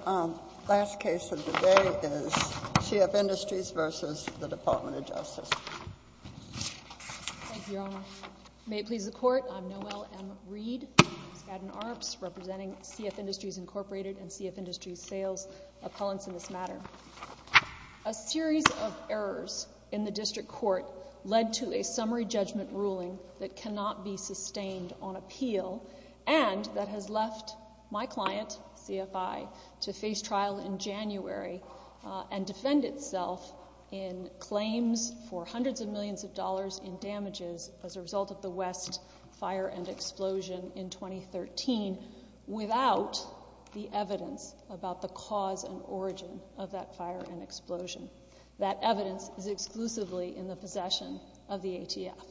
Scadden-Arps, representing CF Industries, Inc. and CF Industries Sales, Appellants in this matter. A series of errors in the district court led to a summary judgment ruling that cannot be sustained on appeal and that has left my client, CFI, to face trial in January and defend itself in claims for hundreds of millions of dollars in damages as a result of the West fire and explosion in 2013 without the evidence about the cause and origin of that fire and explosion. That evidence is exclusively in the possession of the ATF.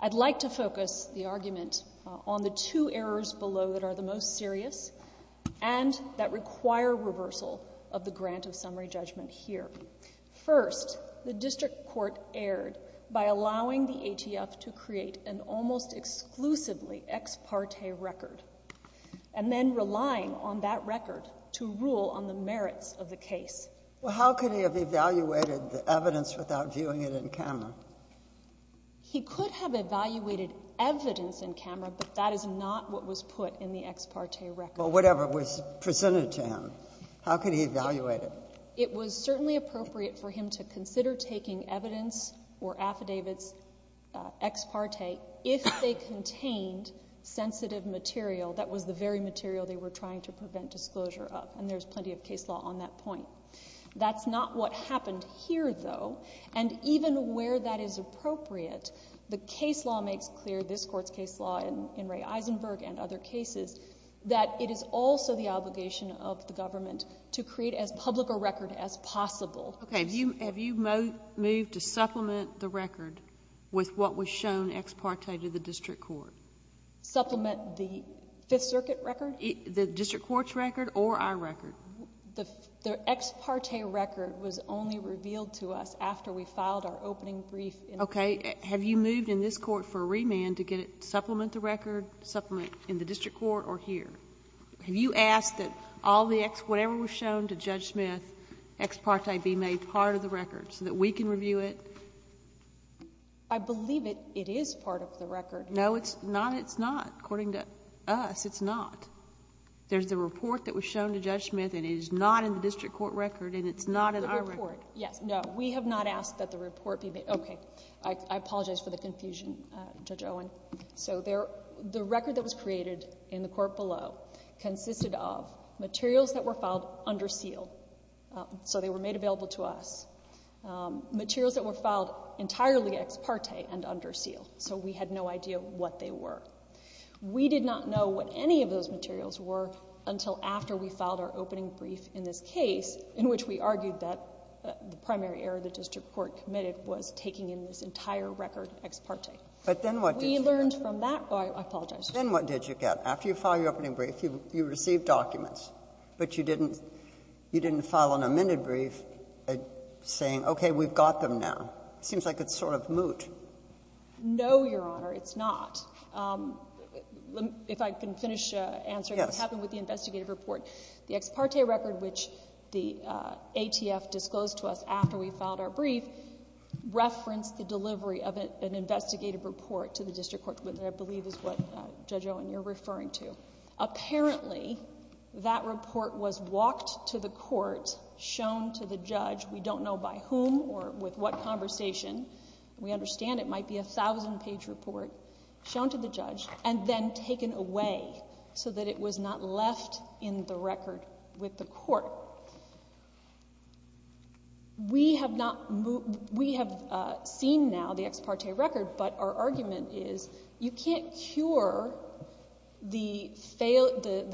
I'd like to focus the argument on the two errors below that are the most serious and that require reversal of the grant of summary judgment here. First, the district court erred by allowing the ATF to create an almost exclusively ex parte record and then relying on that record to rule on the merits of the case. Well, how could he have evaluated the evidence without viewing it in camera? He could have evaluated evidence in camera, but that is not what was put in the ex parte record. Well, whatever was presented to him. How could he evaluate it? It was certainly appropriate for him to consider taking evidence or affidavits ex parte if they contained sensitive material that was the very material they were trying to prevent disclosure of, and there's plenty of case law on that point. That's not what happened here, though, and even where that is appropriate, the case law makes clear, this Court's case law in Ray Eisenberg and other cases, that it is also the obligation of the government to create as public a record as possible. Okay. Have you moved to supplement the record with what was shown ex parte to the district court? Supplement the Fifth Circuit record? The district court's record or our record? The ex parte record was only revealed to us after we filed our opening brief in the district court. Okay. Have you moved in this Court for a remand to get it supplement the record, supplement in the district court or here? Have you asked that all the ex, whatever was shown to Judge Smith, ex parte be made part of the record so that we can review it? I believe it is part of the record. No, it's not. It's not. According to us, it's not. There's the report that was shown to Judge Smith, and it is not in the district court record, and it's not in our record. The report, yes. No, we have not asked that the report be made. Okay. I apologize for the confusion, Judge Owen. So the record that was created in the court below consisted of materials that were filed under seal, so they were made available to us, materials that were filed entirely ex parte and under seal, so we had no idea what they were. We did not know what any of those materials were until after we filed our opening brief in this case, in which we argued that the primary error the district court committed was taking in this entire record ex parte. But then what did you get? We learned from that. Oh, I apologize. Then what did you get? After you filed your opening brief, you received documents, but you didn't file an amended brief saying, okay, we've got them now. It seems like it's sort of moot. No, Your Honor, it's not. If I can finish answering what happened with the investigative report, the ex parte record, which the ATF disclosed to us after we filed our brief, referenced the delivery of an investigative report to the district court, which I believe is what Judge Owen, you're referring to. Apparently, that report was walked to the court, shown to the judge. We don't know by whom or with what conversation. We understand it might be a thousand-page report shown to the judge and then taken away so that it was not left in the record with the court. So we have seen now the ex parte record, but our argument is you can't cure the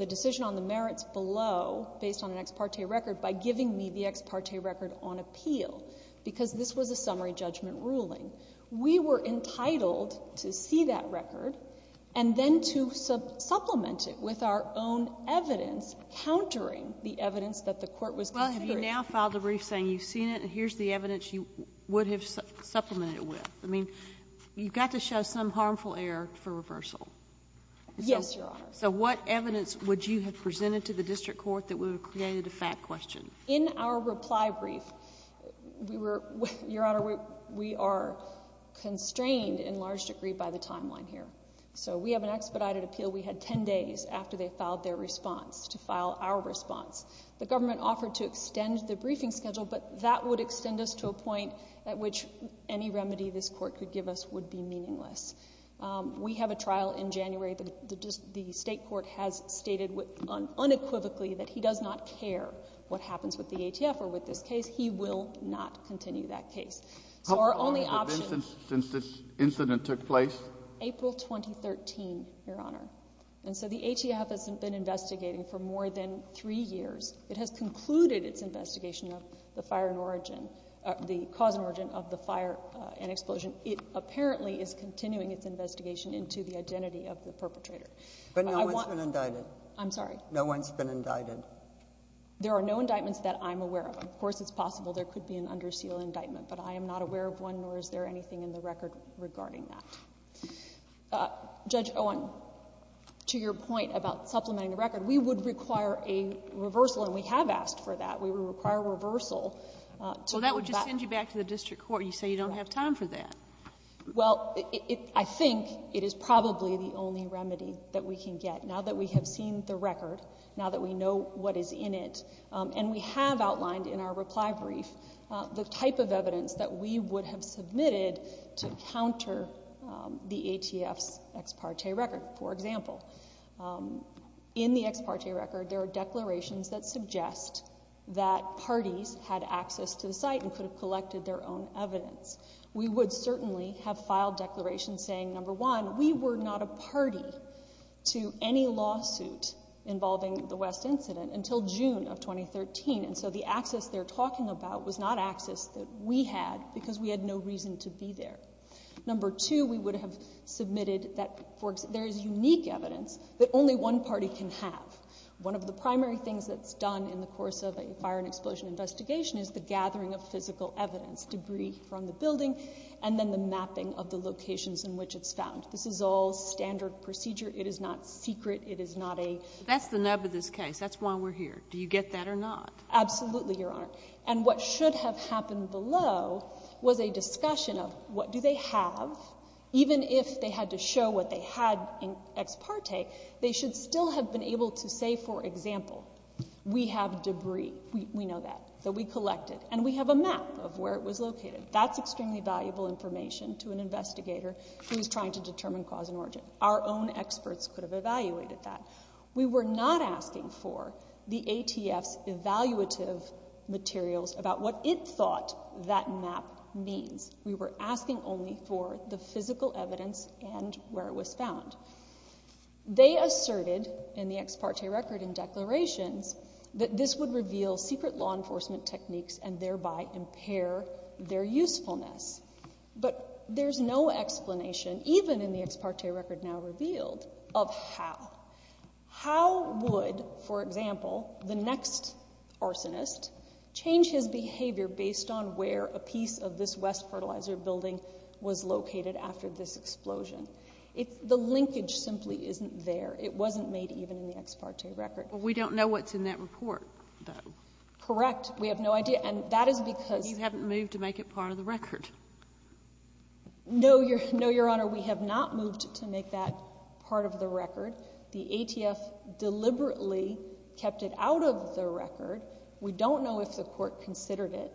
decision on the merits below based on an ex parte record by giving me the ex parte record on appeal because this was a summary judgment ruling. We were entitled to see that record and then to supplement it with our own evidence countering the evidence that the court was considering. Well, have you now filed a brief saying you've seen it and here's the evidence you would have supplemented it with? I mean, you've got to show some harmful error for reversal. Yes, Your Honor. So what evidence would you have presented to the district court that would have created a fact question? In our reply brief, Your Honor, we are constrained in large degree by the timeline here. So we have an expedited appeal. We had ten days after they filed their response to file our response. The government offered to extend the briefing schedule, but that would extend us to a point at which any remedy this court could give us would be meaningless. We have a trial in January. The state court has stated unequivocally that he does not care what happens with the ATF or with this case. He will not continue that case. How long has it been since this incident took place? April 2013, Your Honor. And so the ATF has been investigating for more than three years. It has concluded its investigation of the cause and origin of the fire and explosion. It apparently is continuing its investigation into the identity of the perpetrator. But no one's been indicted? I'm sorry? No one's been indicted? There are no indictments that I'm aware of. Of course, it's possible there could be an under seal indictment, but I am not aware of one, nor is there anything in the record regarding that. Judge Owen, to your point about supplementing the record, we would require a reversal, and we have asked for that. We would require a reversal to go back Well, that would just send you back to the district court. You say you don't have time for that. Well, I think it is probably the only remedy that we can get. Now that we have seen the record, now that we know what is in it, and we have outlined in our reply brief the type of evidence that we would have submitted to counter the ATF's ex parte record, for example. In the ex parte record, there are declarations that suggest that parties had access to the site and could have collected their own evidence. We would certainly have filed declarations saying, number one, we were not a party to any lawsuit involving the West incident until June of 2013, and so the access they're talking about was not access that we had because we had no reason to be there. Number two, we would have submitted that there is unique evidence that only one party can have. One of the primary things that's done in the course of a fire and explosion investigation is the gathering of physical evidence, debris from the building, and then the mapping of the locations in which it's found. This is all standard procedure. It is not secret. It is not a That's the nub of this case. That's why we're here. Do you get that or not? Absolutely, Your Honor. And what should have happened below was a discussion of what do they have, even if they had to show what they had in ex parte, they should still have been able to say, for example, we have debris, we know that, that we collected, and we have a map of where it was located. That's extremely valuable information to an investigator who is trying to determine cause and origin. Our own experts could have evaluated that. We were not asking for the ATF's evaluative materials about what it thought that map means. We were asking only for the physical evidence and where it was found. They asserted in the ex parte record in declarations that this would reveal secret law enforcement techniques and thereby impair their usefulness. But there's no explanation, even in the ex parte record now revealed, of how. How would, for example, the next arsonist change his behavior based on where a piece of this West Fertilizer Building was located after this explosion? The linkage simply isn't there. It wasn't made even in the ex parte record. We don't know what's in that report, though. Correct. We have no idea. And that is because No, Your Honor, we have not moved to make that part of the record. The ATF deliberately kept it out of the record. We don't know if the Court considered it.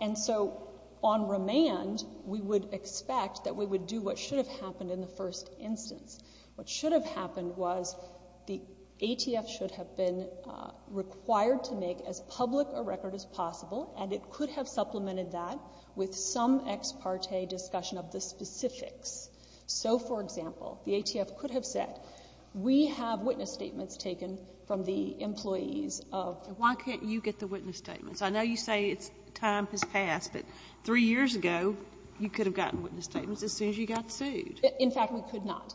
And so on remand, we would expect that we would do what should have happened in the first instance. What should have happened was the ATF should have been required to make as public a record as some ex parte discussion of the specifics. So, for example, the ATF could have said, we have witness statements taken from the employees of Why can't you get the witness statements? I know you say time has passed, but three years ago, you could have gotten witness statements as soon as you got sued. In fact, we could not,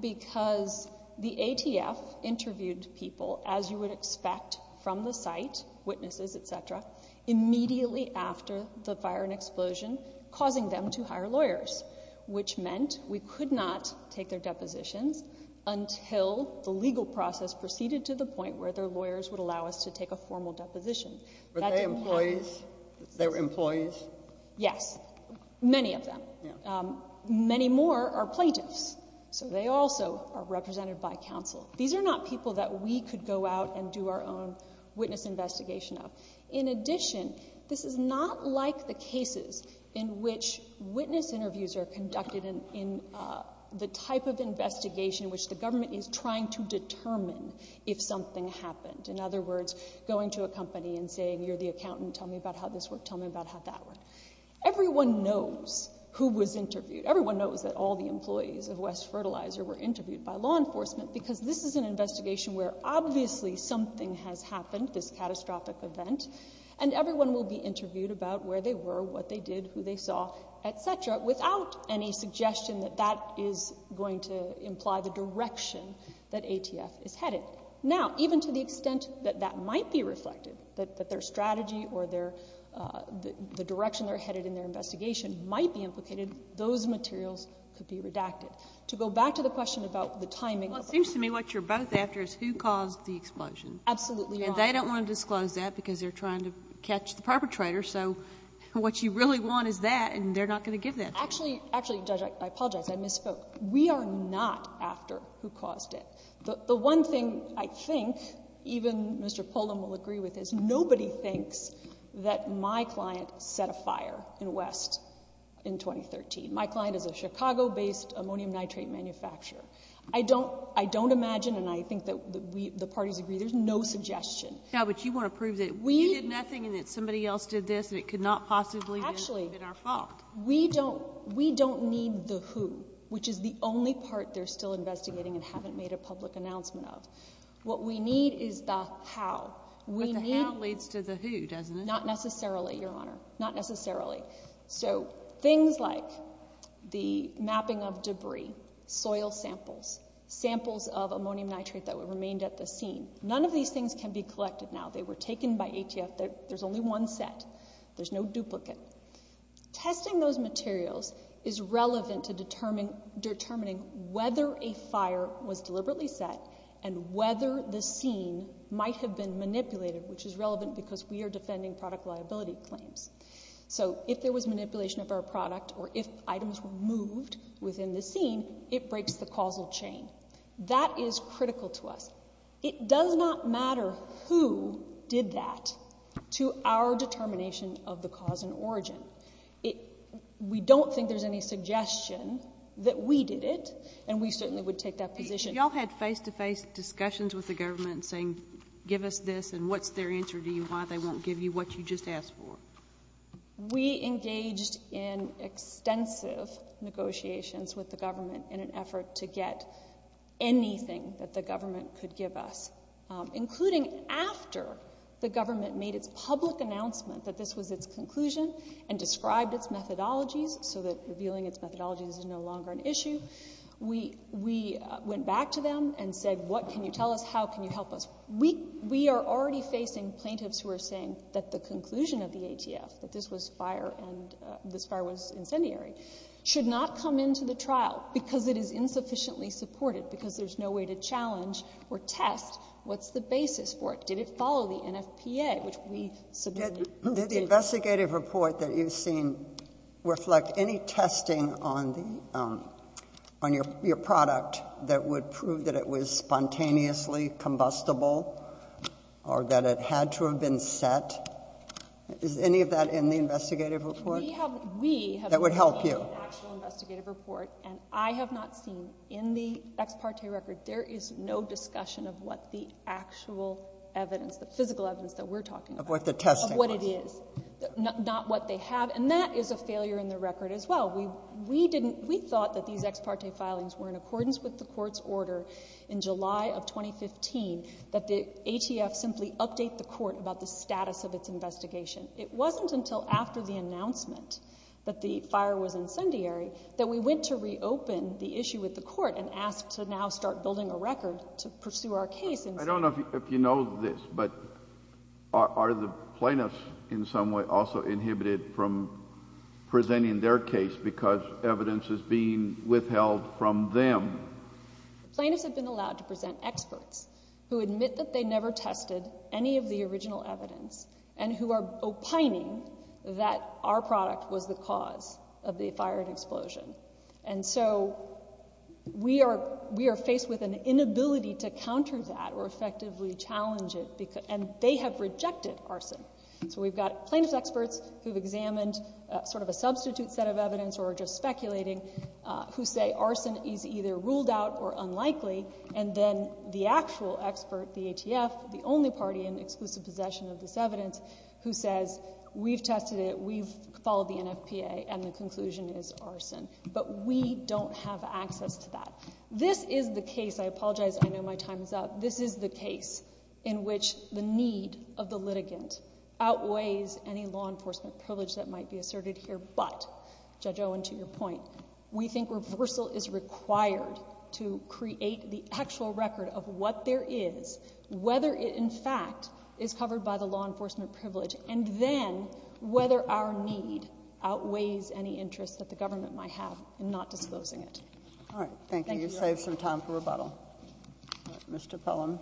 because the ATF interviewed people, as you would expect from the site, witnesses, et cetera, immediately after the fire and explosion, causing them to hire lawyers, which meant we could not take their depositions until the legal process proceeded to the point where their lawyers would allow us to take a formal deposition. Were they employees? They were employees? Yes. Many of them. Many more are plaintiffs. So they also are represented by counsel. These are not people that we could go out and do our own witness investigation of. In addition, this is not like the cases in which witness interviews are conducted in the type of investigation which the government is trying to determine if something happened. In other words, going to a company and saying, you're the accountant, tell me about how this worked, tell me about how that worked. Everyone knows who was interviewed. Everyone knows that all the employees of West Fertilizer were interviewed by law enforcement, because this is an investigation where obviously something has happened, this catastrophic event, and everyone will be interviewed about where they were, what they did, who they saw, et cetera, without any suggestion that that is going to imply the direction that ATF is headed. Now, even to the extent that that might be reflected, that their strategy or the direction they're headed in their investigation might be implicated, those materials could be redacted. To go back to the question about the timing of the explosion. Well, it seems to me what you're both after is who caused the explosion. Absolutely. And they don't want to disclose that because they're trying to catch the perpetrator. So what you really want is that, and they're not going to give that to you. Actually, Judge, I apologize. I misspoke. We are not after who caused it. The one thing I think even Mr. Poland will agree with is nobody thinks that my client set a fire in August in 2013. My client is a Chicago-based ammonium nitrate manufacturer. I don't imagine, and I think that the parties agree, there's no suggestion. Yeah, but you want to prove that we did nothing and that somebody else did this and it could not possibly have been our fault. Actually, we don't need the who, which is the only part they're still investigating and haven't made a public announcement of. What we need is the how. But the how leads to the who, doesn't it? Not necessarily, Your Honor. Not necessarily. So things like the mapping of debris, soil samples, samples of ammonium nitrate that remained at the scene. None of these things can be collected now. They were taken by ATF. There's only one set. There's no duplicate. Testing those materials is relevant to determining whether a fire was deliberately set and whether the scene might have been manipulated, which is relevant because we are defending product liability claims. So if there was manipulation of our product or if items were moved within the scene, it breaks the causal chain. That is critical to us. It does not matter who did that to our determination of the cause and origin. We don't think there's any suggestion that we did it, and we certainly would take that position. But y'all had face-to-face discussions with the government saying, give us this, and what's their answer to you, why they won't give you what you just asked for? We engaged in extensive negotiations with the government in an effort to get anything that the government could give us, including after the government made its public announcement that this was its conclusion and described its methodologies so that revealing its methodologies is no longer an issue. We went back to them and said, what can you tell us? How can you help us? We are already facing plaintiffs who are saying that the conclusion of the ATF, that this fire was incendiary, should not come into the trial because it is insufficiently supported, because there's no way to challenge or test what's the basis for it. Did it follow the NFPA, which we submitted? Did the investigative report that you've seen reflect any testing on the, on your product that would prove that it was spontaneously combustible, or that it had to have been set? Is any of that in the investigative report that would help you? We have not seen an actual investigative report, and I have not seen in the ex parte record there is no discussion of what the actual evidence, the physical evidence that we're looking at is, not what they have, and that is a failure in the record as well. We didn't, we thought that these ex parte filings were in accordance with the court's order in July of 2015, that the ATF simply update the court about the status of its investigation. It wasn't until after the announcement that the fire was incendiary that we went to reopen the issue with the court and asked to now start building a record to pursue our case I don't know if you know this, but are the plaintiffs in some way also inhibited from presenting their case because evidence is being withheld from them? Plaintiffs have been allowed to present experts who admit that they never tested any of the original evidence, and who are opining that our product was the cause of the fire and were effectively challenging it, and they have rejected arson. So we've got plaintiffs experts who have examined sort of a substitute set of evidence, or are just speculating, who say arson is either ruled out or unlikely, and then the actual expert, the ATF, the only party in exclusive possession of this evidence, who says, we've tested it, we've followed the NFPA, and the conclusion is arson. But we don't have access to that. This is the case, and I apologize, I know my time is up, this is the case in which the need of the litigant outweighs any law enforcement privilege that might be asserted here. But, Judge Owen, to your point, we think reversal is required to create the actual record of what there is, whether it in fact is covered by the law enforcement privilege, and then whether our need outweighs any interest that the government might have in not disclosing it. All right. Thank you. You've saved some time for rebuttal. Mr. Pellin.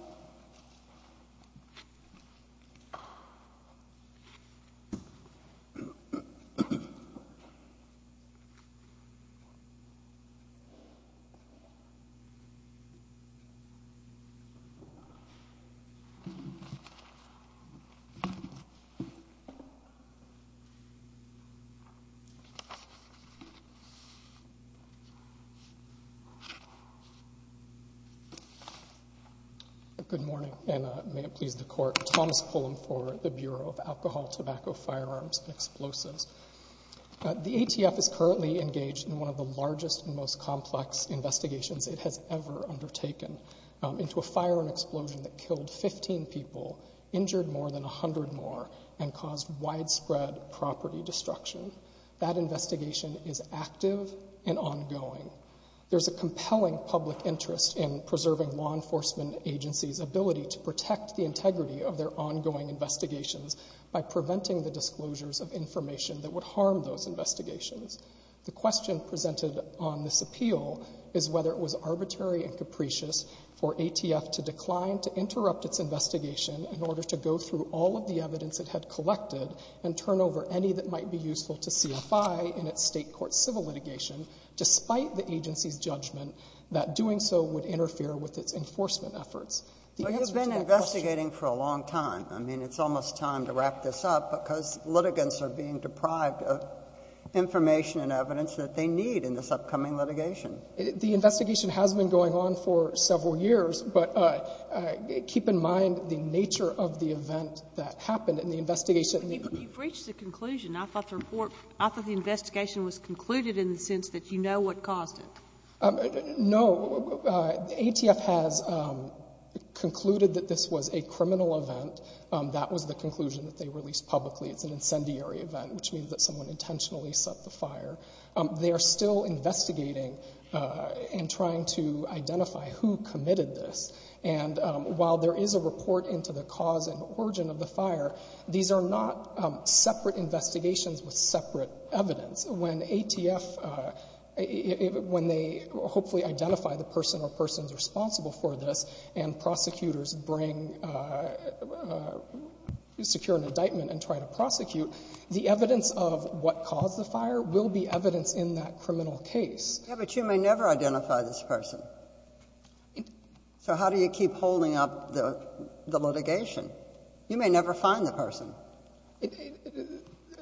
Good morning, and may it please the Court. Thomas Pullum for the Bureau of Alcohol, Tobacco, Firearms, and Explosives. The ATF is currently engaged in one of the largest and most complex investigations it has ever undertaken, into a firearm explosion that killed 15 people, injured more than 100 more, and caused widespread property destruction. That investigation is active and ongoing. There's a compelling public interest in preserving law enforcement agencies' ability to protect the integrity of their ongoing investigations by preventing the disclosures of information that would harm those investigations. The question presented on this appeal is whether it was arbitrary and capricious for ATF to decline to interrupt its investigation in order to go through all of the evidence it to CFI in its State court civil litigation, despite the agency's judgment that doing so would interfere with its enforcement efforts. But you've been investigating for a long time. I mean, it's almost time to wrap this up, because litigants are being deprived of information and evidence that they need in this upcoming litigation. The investigation has been going on for several years, but keep in mind the nature of the event that happened in the investigation. But you've reached a conclusion. I thought the report, I thought the investigation was concluded in the sense that you know what caused it. No. ATF has concluded that this was a criminal event. That was the conclusion that they released publicly. It's an incendiary event, which means that someone intentionally set the fire. They are still investigating and trying to identify who committed this. And while there is a report into the cause and origin of the fire, these are not separate investigations with separate evidence. When ATF, when they hopefully identify the person or persons responsible for this and prosecutors bring, secure an indictment and try to prosecute, the evidence of what caused the fire will be evidence in that criminal case. Yeah, but you may never identify this person. So how do you keep holding up the litigation? You may never find the person.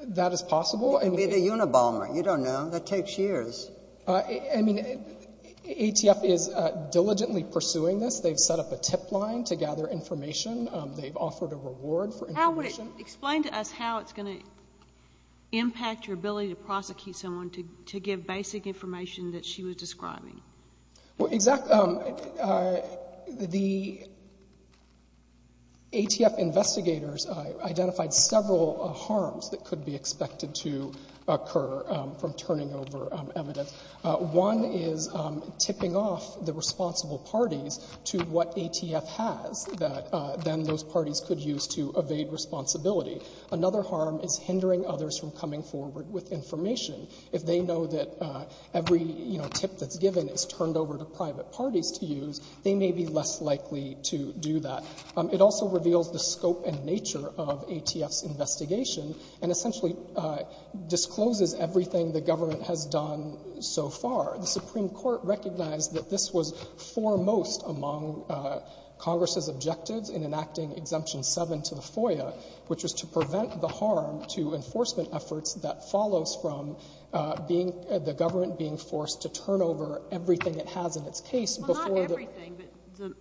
That is possible. You can be the Unabomber. You don't know. That takes years. I mean, ATF is diligently pursuing this. They've set up a tip line to gather information. They've offered a reward for information. How would you explain to us how it's going to impact your ability to prosecute someone to give basic information that she was describing? Well, exactly. The ATF investigators identified several harms that could be expected to occur from turning over evidence. One is tipping off the responsible parties to what ATF has that then those parties could use to evade responsibility. Another harm is hindering others from coming forward with information. If they know that every tip that's given is turned over to private parties to use, they may be less likely to do that. It also reveals the scope and nature of ATF's investigation and essentially discloses everything the government has done so far. The Supreme Court recognized that this was foremost among Congress's objectives in enacting Exemption 7 to the FOIA, which was to prevent the harm to enforcement efforts that follows from being — the government being forced to turn over everything it has in its case before the — Well, not everything, but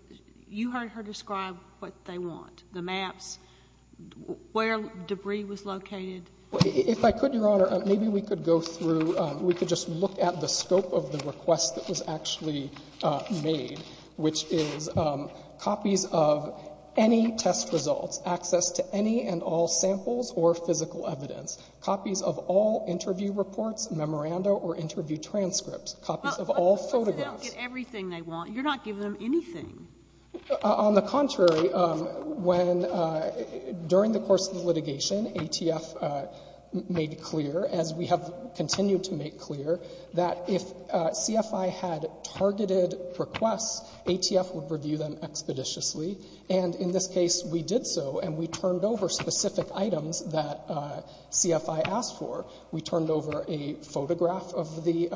you heard her describe what they want, the maps, where debris was located. If I could, Your Honor, maybe we could go through — we could just look at the scope of the request that was actually made, which is copies of any test results, access to any and all samples or physical evidence, copies of all interview reports, memoranda or interview transcripts, copies of all photographs. But they don't get everything they want. You're not giving them anything. On the contrary, when — during the course of the litigation, ATF made clear, as we have continued to make clear, that if CFI had targeted requests, ATF would review them expeditiously. And in this case, we did so, and we turned over specific items that CFI asked for. We turned over a photograph of the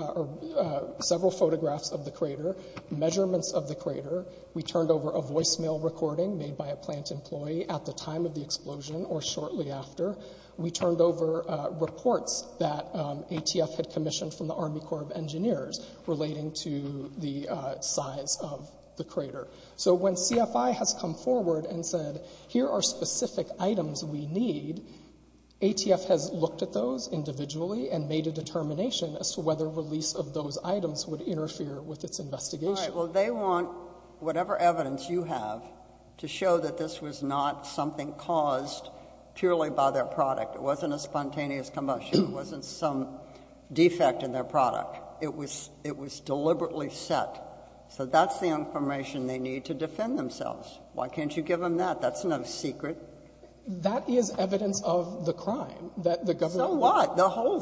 — several photographs of the crater, measurements of the crater. We turned over a voicemail recording made by a plant employee at the time of the explosion or shortly after. We turned over reports that ATF had commissioned from the Army Corps of Engineers relating to the size of the crater. So when CFI has come forward and said, here are specific items we need, ATF has looked at those individually and made a determination as to whether release of those items would interfere with its investigation. All right. Well, they want whatever evidence you have to show that this was not something caused purely by their product. It wasn't a spontaneous combustion. It wasn't some thing that they needed to defend themselves. Why can't you give them that? That's no secret. That is evidence of the crime that the government — So what? The whole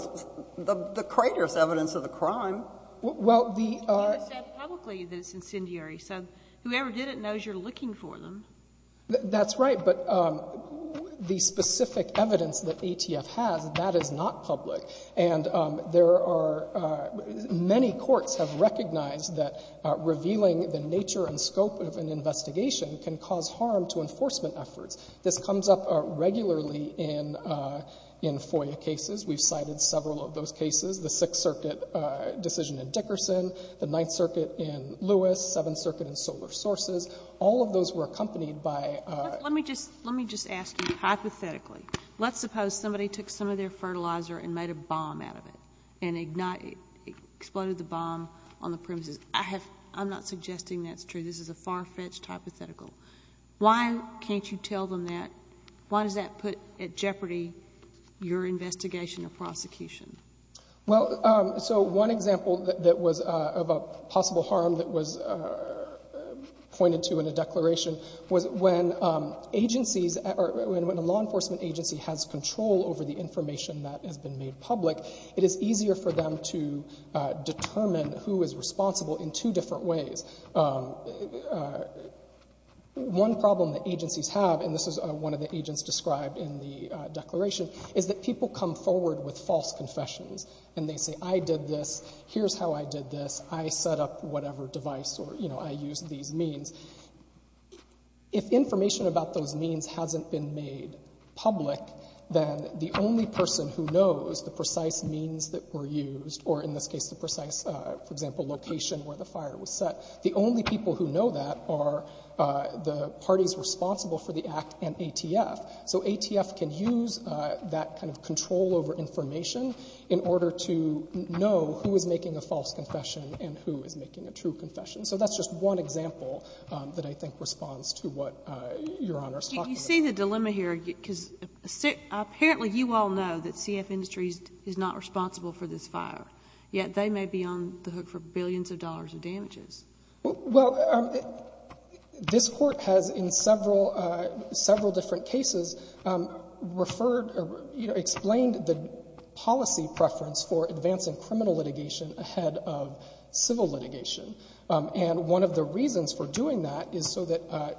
— the crater is evidence of the crime. Well, the — It was said publicly that it's incendiary. So whoever did it knows you're looking for them. That's right. But the specific evidence that ATF has, that is not public. And there are — many courts have recognized that revealing the nature and scope of an investigation can cause harm to enforcement efforts. This comes up regularly in FOIA cases. We've cited several of those cases. The Sixth Circuit decision in Dickerson, the Ninth Circuit in Lewis, Seventh Circuit in Solar Sources. All of those were accompanied by — Let me just ask you hypothetically. Let's suppose somebody took some of their fertilizer and made a bomb out of it and ignited — exploded the bomb on the premises. I have — I'm not suggesting that's true. This is a far-fetched hypothetical. Why can't you tell them that? Why does that put at jeopardy your investigation or prosecution? Well, so one example that was — of a possible harm that was pointed to in a declaration was when agencies — or when a law enforcement agency has control over the information that has been made public, it is easier for them to determine who is responsible in two different ways. One problem that agencies have, and this is one of the agents described in the declaration, is that people come forward with false confessions. And they say, I did this, here's how I did this, I set up whatever device or, you know, I used these means. If information about those means hasn't been made public, then the only person who knows the precise means that were used, or in this case the precise, for example, location where the fire was set, the only people who know that are the parties responsible for the act and ATF. So ATF can use that kind of control over information in order to know who is making a false confession and who is making a true confession. So that's just one example that I think responds to what Your Honor is talking about. You see the dilemma here, because apparently you all know that CF Industries is not responsible for this fire, yet they may be on the hook for billions of dollars of damages. Well, this Court has in several different cases referred — you know, explained the policy preference for advancing criminal litigation ahead of civil litigation. And one of the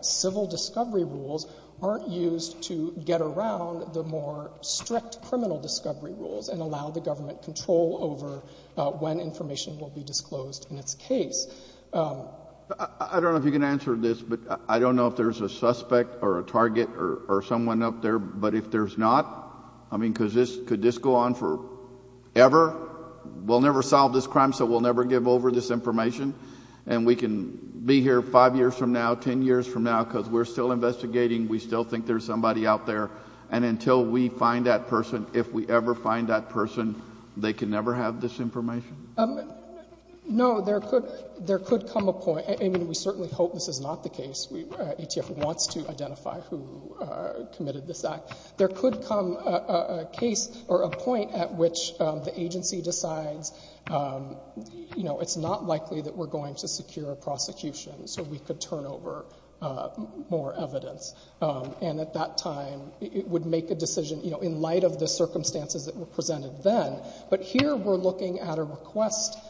civil discovery rules aren't used to get around the more strict criminal discovery rules and allow the government control over when information will be disclosed in its case. I don't know if you can answer this, but I don't know if there's a suspect or a target or someone up there. But if there's not, I mean, could this go on forever? We'll never solve this crime, so we'll never give over this information. And we can be here five years from now, ten years from now, because we're still investigating. We still think there's somebody out there. And until we find that person, if we ever find that person, they can never have this information? No. There could — there could come a point — I mean, we certainly hope this is not the case. ATF wants to identify who committed this act. There could come a case or a point at which the agency decides, you know, it's not likely that we're going to secure a prosecution, so we could turn over more evidence. And at that time, it would make a decision, you know, in light of the circumstances that were presented then. But here, we're looking at a request —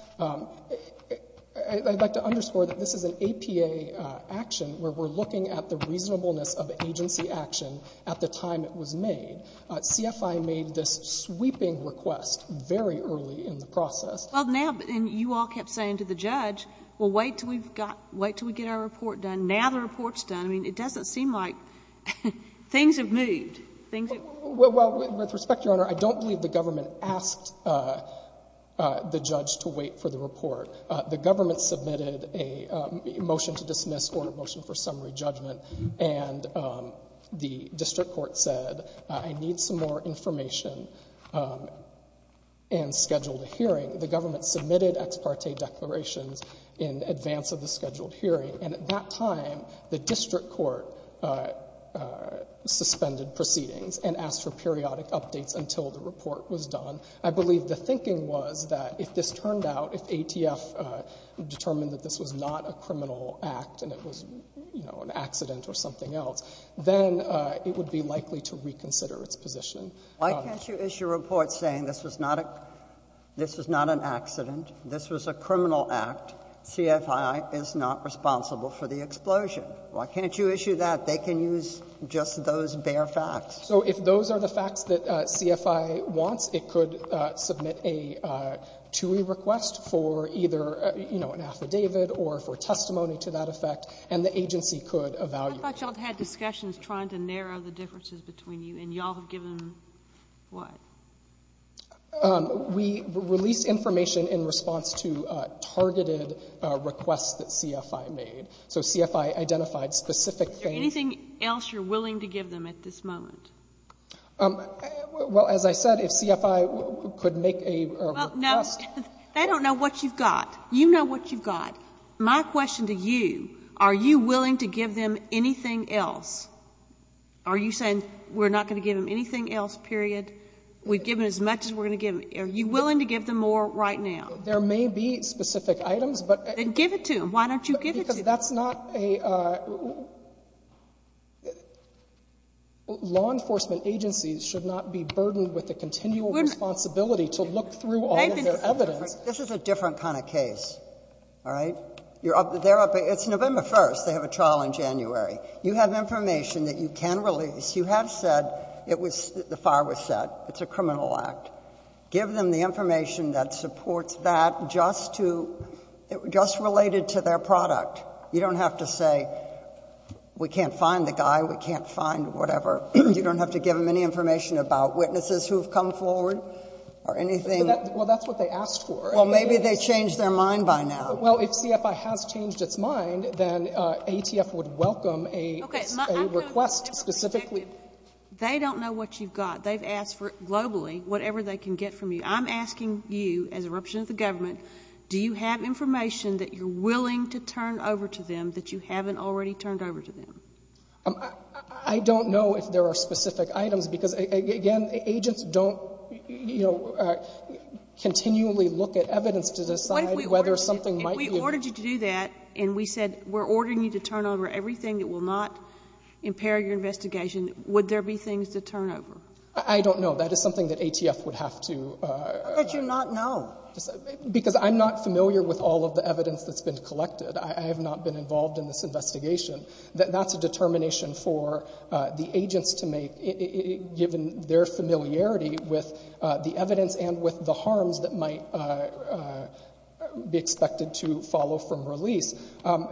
I'd like to underscore that this is an APA action, where we're looking at the reasonableness of agency action at the time it was made. CFI made this sweeping request very early in the process. Well, now — and you all kept saying to the judge, well, wait till we've got — wait till we get our report done. Now the report's done. I mean, it doesn't seem like — things have moved. Things have — Well, with respect, Your Honor, I don't believe the government asked the judge to wait for the report. The government submitted a motion to dismiss or a motion for summary judgment. And the district court said, I need some more information, and scheduled a hearing. The government submitted ex parte declarations in advance of the scheduled hearing. And at that time, the district court suspended proceedings and asked for periodic updates until the report was done. I believe the thinking was that if this turned out, if ATF determined that this was not a criminal act and it was, you know, an accident or something else, then it would be likely to reconsider its position. Why can't you issue a report saying this was not a — this was not an accident, this was a criminal act, CFI is not responsible for the explosion? Why can't you issue that? They can use just those bare facts. So if those are the facts that CFI wants, it could submit a TUI request for either, you know, an affidavit or for testimony to that effect, and the agency could evaluate. I thought y'all had discussions trying to narrow the differences between you, and y'all have given what? We released information in response to targeted requests that CFI made. So CFI identified specific things. Is there anything else you're willing to give them at this moment? Well, as I said, if CFI could make a request. Well, no. They don't know what you've got. You know what you've got. My question to you, are you willing to give them anything else? Are you saying we're not going to give them anything else, period? We've given as much as we're going to give. Are you willing to give them more right now? There may be specific items, but — Then give it to them. Why don't you give it to them? Because that's not a — law enforcement agencies should not be burdened with the continual responsibility to look through all of their evidence. This is a different kind of case. All right? They're up — it's November 1st. They have a trial in January. You have information that you can release. You have said it was — the fire was set. It's a criminal act. Give them the information that supports that, just to — just related to their product. You don't have to say we can't find the guy, we can't find whatever. You don't have to give them any information about witnesses who have come forward or anything. Well, that's what they asked for. Well, maybe they changed their mind by now. Well, if CFI has changed its mind, then ATF would welcome a request specifically — Okay. I'm going to — they don't know what you've got. They've asked for, globally, whatever they can get from you. I'm asking you, as a representative of the government, do you have information that you're willing to turn over to them that you haven't already turned over to them? I don't know if there are specific items, because, again, agents don't, you know, continually look at evidence to decide whether something might be — What if we ordered you to do that, and we said, we're ordering you to turn over everything that will not impair your investigation, would there be things to turn over? I don't know. That is something that ATF would have to — How could you not know? Because I'm not familiar with all of the evidence that's been collected. I have not been involved in this investigation. That's a determination for the agents to make, given their familiarity with the evidence and with the harms that might be expected to follow from release. And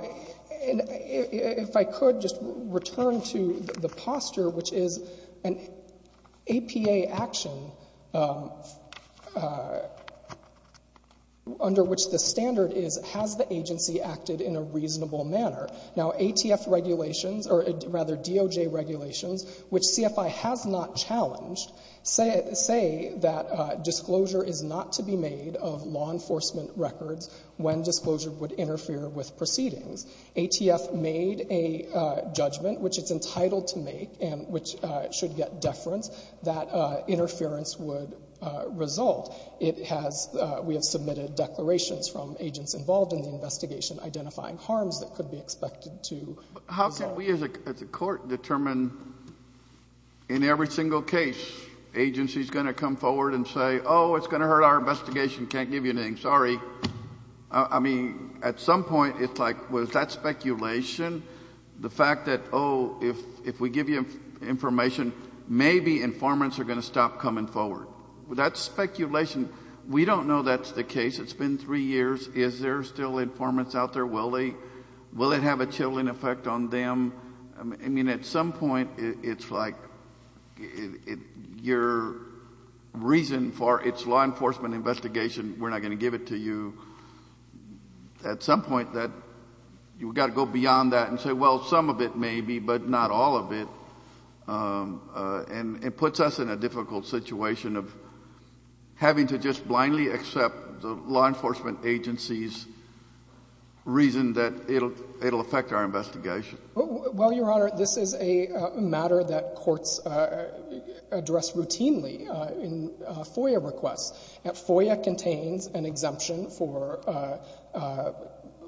if I could just return to the posture, which is an APA action under which the agency acted in a reasonable manner. Now, ATF regulations — or rather, DOJ regulations, which CFI has not challenged, say that disclosure is not to be made of law enforcement records when disclosure would interfere with proceedings. ATF made a judgment, which it's entitled to make and which should get deference, that interference would result. It has — we have submitted declarations from agents involved in the investigation identifying harms that could be expected to result. But how can we as a court determine in every single case agency is going to come forward and say, oh, it's going to hurt our investigation, can't give you anything, sorry? I mean, at some point, it's like, well, is that speculation? The fact that, oh, if we give you information, maybe informants are going to stop coming forward. Well, that's speculation. We don't know that's the case. It's been three years. Is there still informants out there? Will they — will it have a chilling effect on them? I mean, at some point, it's like your reason for — it's law enforcement investigation, we're not going to give it to you. At some point, that — you've got to go beyond that and say, well, some of it may be, but not all of it. And it puts us in a difficult situation of having to just blindly accept the law enforcement agency's reason that it'll affect our investigation. Well, Your Honor, this is a matter that courts address routinely in FOIA requests. FOIA contains an exemption for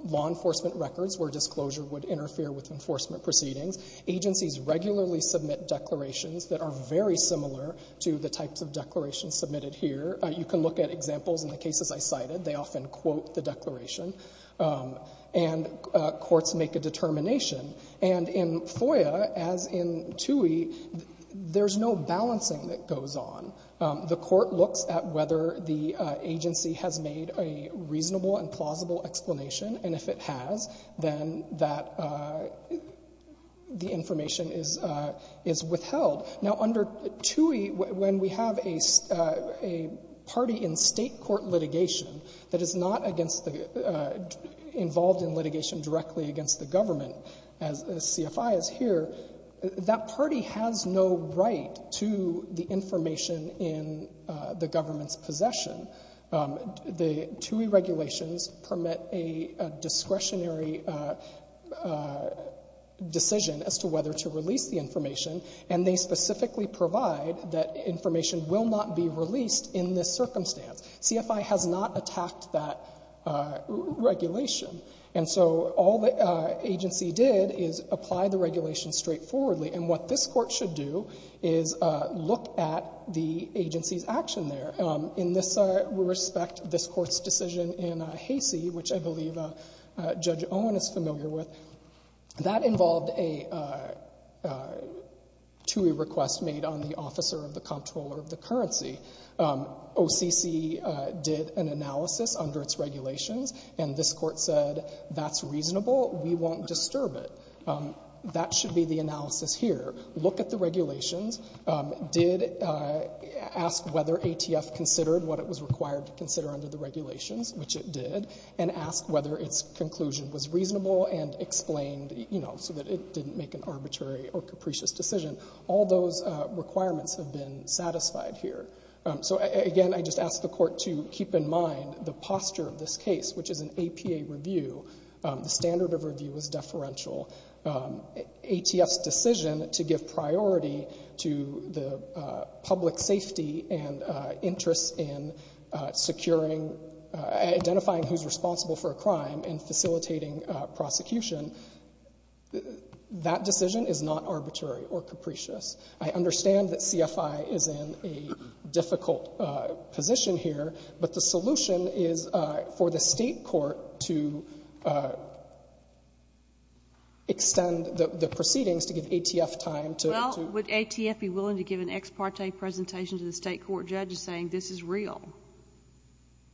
law enforcement records where disclosure would interfere with enforcement proceedings. Agencies regularly submit declarations that are very similar to the types of declarations submitted here. You can look at examples in the cases I cited. They often quote the declaration. And courts make a determination. And in FOIA, as in TUI, there's no balancing that goes on. And if it has, then that — the information is — is withheld. Now, under TUI, when we have a — a party in state court litigation that is not against the — involved in litigation directly against the government, as CFI is here, that party has no right to the information in the government's possession. The TUI regulations permit a discretionary decision as to whether to release the information, and they specifically provide that information will not be released in this circumstance. CFI has not attacked that regulation. And so all the agency did is apply the regulation straightforwardly. And what this court should do is look at the agency's action there. In this respect, this court's decision in Hacey, which I believe Judge Owen is familiar with, that involved a TUI request made on the officer of the comptroller of the currency. OCC did an analysis under its regulations, and this court said that's reasonable, we won't disturb it. That should be the analysis here. Look at the regulations. Did — ask whether ATF considered what it was required to consider under the regulations, which it did, and ask whether its conclusion was reasonable and explained, you know, so that it didn't make an arbitrary or capricious decision. All those requirements have been satisfied here. So, again, I just ask the court to keep in mind the posture of this case, which is an APA review. The standard of review is deferential. ATF's decision to give priority to the public safety and interest in securing — identifying who's responsible for a crime and facilitating prosecution, that decision is not arbitrary or capricious. I understand that CFI is in a difficult position here, but the solution is for the court to extend the proceedings to give ATF time to — Well, would ATF be willing to give an ex parte presentation to the State court judge saying this is real,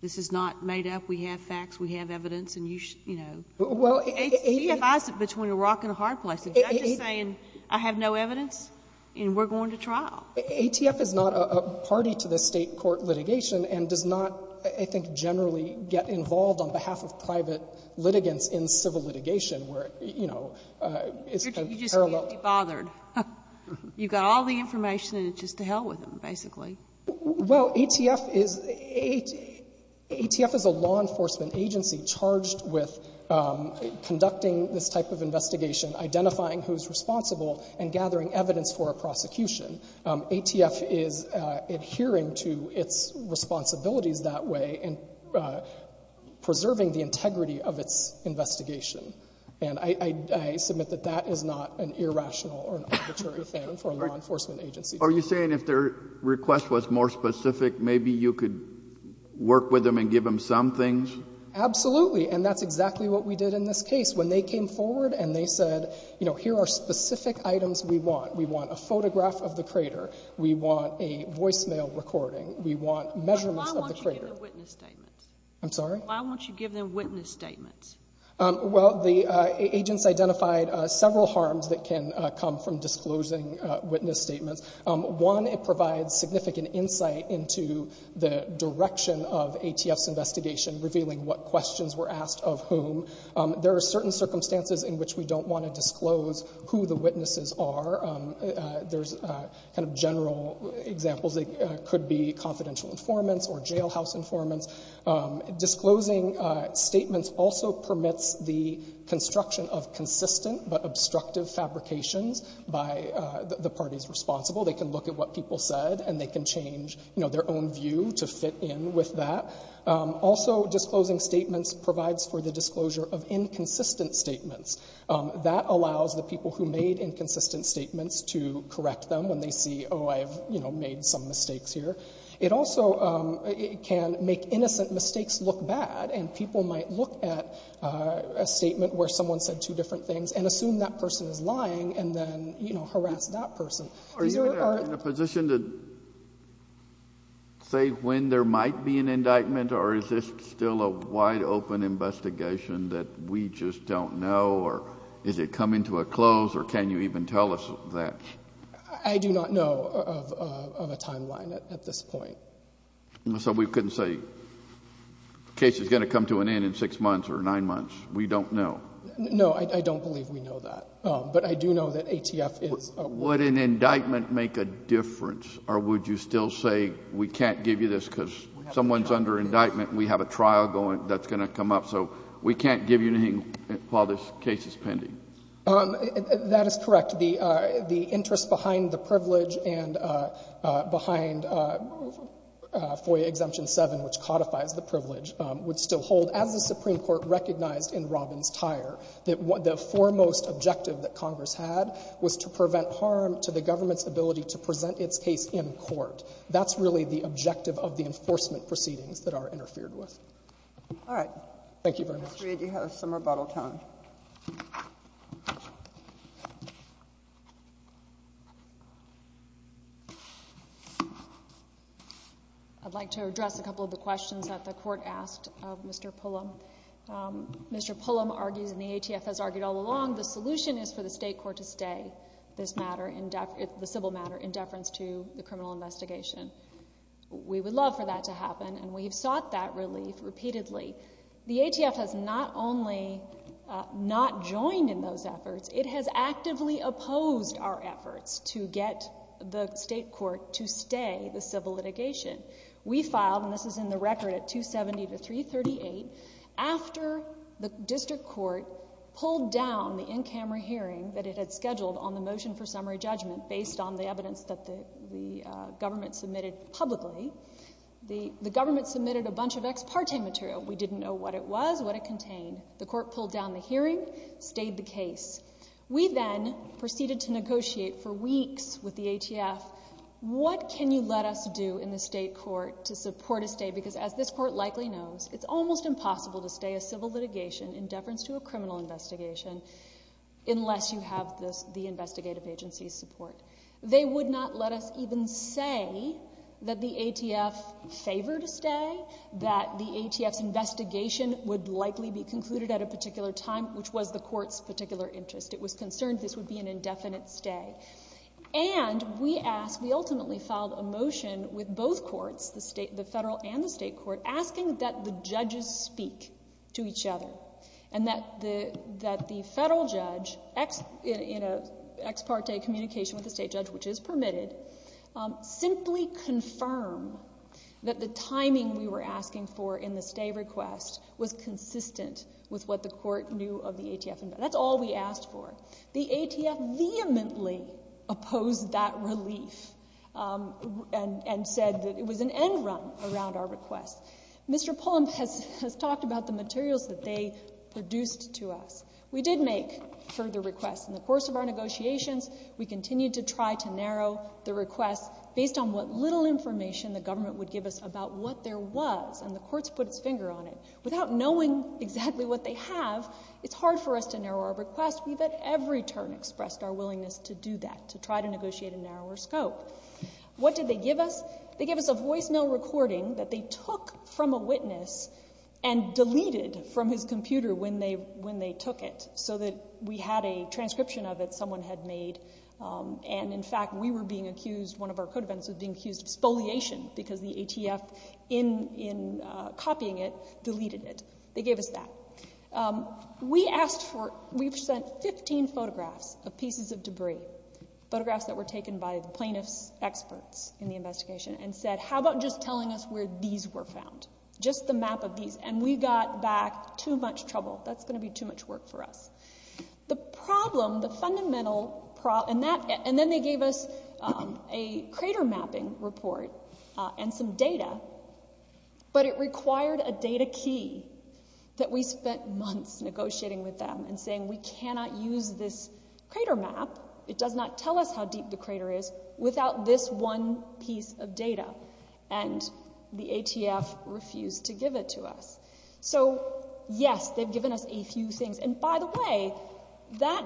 this is not made up, we have facts, we have evidence, and you should, you know, CFI is between a rock and a hard place. The judge is saying I have no evidence, and we're going to trial. ATF is not a party to the State court litigation and does not, I think, generally get involved on behalf of private litigants in civil litigation, where, you know, it's a parallel — You just can't be bothered. You've got all the information, and it's just to hell with them, basically. Well, ATF is — ATF is a law enforcement agency charged with conducting this type of investigation, identifying who's responsible, and gathering evidence for a prosecution. ATF is adhering to its responsibilities that way and preserving the integrity of its investigation, and I — I submit that that is not an irrational or arbitrary thing for a law enforcement agency to do. Are you saying if their request was more specific, maybe you could work with them and give them some things? Absolutely. And that's exactly what we did in this case. When they came forward and they said, you know, here are specific items we want. We want a photograph of the crater. We want a voicemail recording. We want measurements of the crater. Why won't you give them witness statements? I'm sorry? Why won't you give them witness statements? Well, the agents identified several harms that can come from disclosing witness statements. One, it provides significant insight into the direction of ATF's investigation, revealing what questions were asked of whom. There are certain circumstances in which we don't want to disclose who the witnesses are. There's kind of general examples that could be confidential informants or jailhouse informants. Disclosing statements also permits the construction of consistent but obstructive fabrications by the parties responsible. They can look at what people said, and they can change, you know, their own view to fit in with that. Also, disclosing statements provides for the disclosure of inconsistent statements. That allows the people who made inconsistent statements to correct them when they see, oh, I've, you know, made some mistakes here. It also can make innocent mistakes look bad, and people might look at a statement where someone said two different things and assume that person is lying and then, you know, harass that person. Are you in a position to say when there might be an indictment, or is this still a wide-open investigation that we just don't know, or is it coming to a close, or can you even tell us that? I do not know of a timeline at this point. So we couldn't say the case is going to come to an end in six months or nine months. We don't know. No, I don't believe we know that. But I do know that ATF is a... Would an indictment make a difference, or would you still say we can't give you this because someone is under indictment and we have a trial going that's going to come up, so we can't give you anything while this case is pending? That is correct. The interest behind the privilege and behind FOIA Exemption 7, which codifies the privilege, would still hold, as the Supreme Court recognized in Robbins-Tyre, that the foremost objective that Congress had was to prevent harm to the government's ability to present its case in court. That's really the objective of the enforcement proceedings that are interfered with. All right. Thank you very much. Ms. Reed, you have some rebuttal time. I'd like to address a couple of the questions that the Court asked of Mr. Pullum. Mr. Pullum argues, and the ATF has argued all along, the solution is for the state court to stay this matter, the civil matter, in deference to the criminal investigation. We would love for that to happen, and we have sought that relief repeatedly. The ATF has not only not joined in those efforts, it has actively opposed our efforts to get the state court to stay the civil litigation. We filed, and this is in the record, at 270 to 338, after the district court pulled down the in-camera hearing that it had scheduled on the motion for summary judgment, based on the evidence that the government submitted publicly. The government submitted a bunch of ex parte material. We didn't know what it was, what it contained. The court pulled down the hearing, stayed the case. We then proceeded to negotiate for weeks with the ATF, what can you let us do in the state court to support a stay, because as this court likely knows, it's almost impossible to stay a civil litigation in deference to a criminal investigation, unless you have the investigative agency's support. They would not let us even say that the ATF favored a stay, that the ATF's investigation would likely be concluded at a particular time, which was the court's particular interest. It was concerned this would be an indefinite stay. And we asked, we ultimately filed a motion with both courts, the federal and the state court, asking that the judges speak to each other, and that the federal judge, in an ex parte communication with the state judge, which is permitted, simply confirm that the timing we were asking for in the stay request was consistent with what the court knew of the ATF. That's all we asked for. The ATF vehemently opposed that relief, and said that it was an end run around our request. Mr. Pullum has talked about the materials that they produced to us. We did make further requests in the course of our negotiations. We continued to try to narrow the request based on what little information the government would give us about what there was, and the courts put its finger on it. Without knowing exactly what they have, it's hard for us to narrow our request. We've at every turn expressed our willingness to do that, to try to negotiate a narrower scope. What did they give us? They gave us a voicemail recording that they took from a witness, and deleted from his computer when they took it, so that we had a transcription of it someone had made. And in fact, we were being accused, one of our co-defendants was being accused of spoliation, because the ATF, in copying it, deleted it. They gave us that. We've sent 15 photographs of pieces of debris, photographs that were taken by the plaintiff's experts in the investigation, and said, how about just telling us where these were found? Just the map of these. And we got back too much trouble. That's going to be too much work for us. The problem, the fundamental problem, and then they gave us a crater mapping report, and some data, but it required a data key, that we spent months negotiating with them, and saying we cannot use this crater map, it does not tell us how deep the crater is, without this one piece of data, and the ATF refused to give it to us. So yes, they've given us a few things, and by the way, that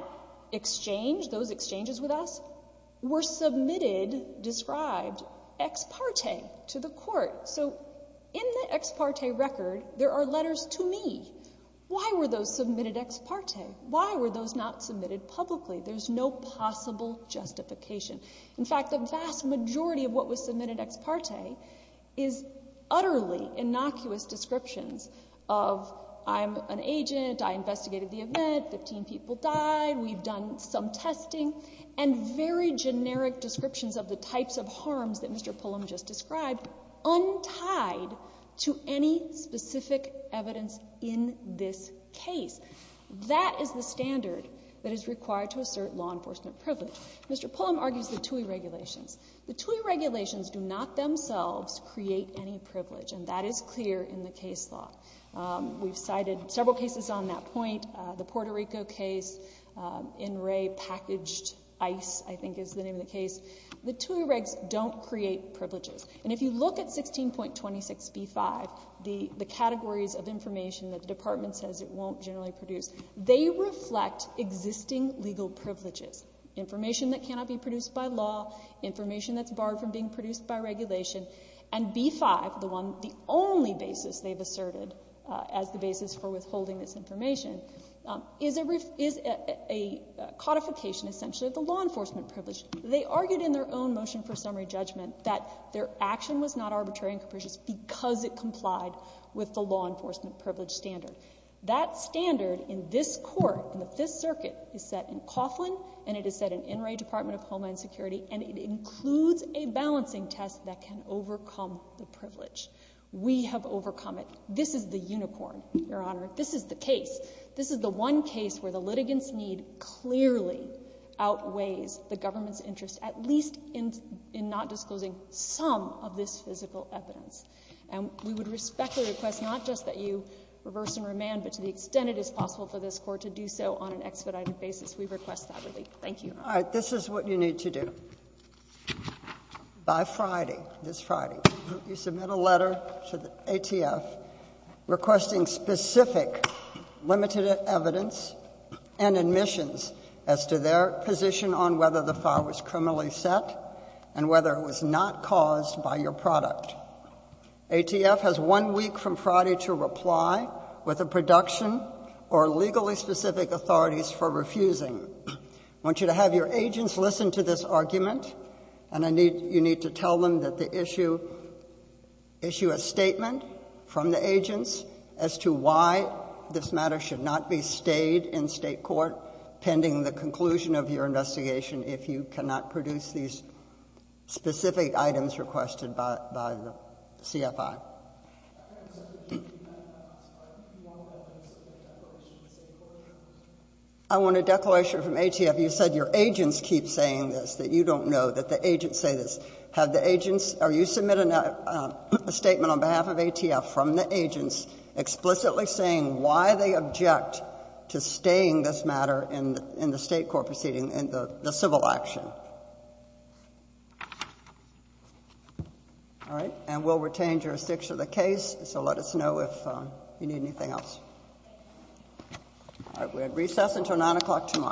exchange, those exchanges with us, were submitted, described, ex parte to the court. So in the ex parte record, there are letters to me. Why were those submitted ex parte? Why were those not submitted publicly? There's no possible justification. In fact, the vast majority of what was submitted ex parte is utterly innocuous descriptions of I'm an agent, I investigated the event, 15 people died, we've done some testing, and very generic descriptions of the types of harms that Mr. Pullum just described, untied to any specific evidence in this case. That is the standard that is required to assert law enforcement privilege. Mr. Pullum argues the TUI regulations. The TUI regulations do not themselves create any privilege, and that is clear in the case law. We've cited several cases on that point, the Puerto Rico case, In Re Packaged Ice, I think is the name of the case. The TUI regs don't create privileges, and if you look at 16.26b5, the categories of information that the department says it won't generally produce, they reflect existing legal privileges. Information that cannot be produced by law, information that's barred from being produced by regulation, and b5, the only basis they've asserted as the basis for withholding this information, is a codification essentially of the law enforcement privilege. They argued in their own motion for summary judgment that their action was not arbitrary and capricious because it complied with the law enforcement privilege standard. That standard in this court, in the Fifth Circuit, is set in Coughlin, and it is set in In Re Department of Homeland Security, and it includes a balancing test that can overcome the privilege. We have overcome it. This is the unicorn, Your Honor. This is the case. This is the one case where the litigant's need clearly outweighs the government's interest, at least in not disclosing some of this physical evidence. And we would respect the request not just that you reverse and remand, but to the extent it is possible for this Court to do so on an expedited basis, we request that relief. Thank you. All right. This is what you need to do. By Friday, this Friday, you submit a letter to the ATF requesting specific limited evidence and admissions as to their position on whether the file was criminally set and whether it was not caused by your product. ATF has one week from Friday to reply with a production or legally specific authorities for refusing. I want you to have your agents listen to this argument, and you need to tell them that they issue a statement from the agents as to why this matter should not be stayed in State court pending the conclusion of your investigation if you cannot produce these specific items requested by the CFI. I want a declaration from ATF. You said your agents keep saying this, that you don't know, that the agents say this. Have the agents or you submit a statement on behalf of ATF from the agents explicitly saying why they object to staying this matter in the State court proceeding, in the civil action? All right, and we'll retain jurisdiction of the case, so let us know if you need anything else. All right, we're at recess until 9 o'clock tomorrow.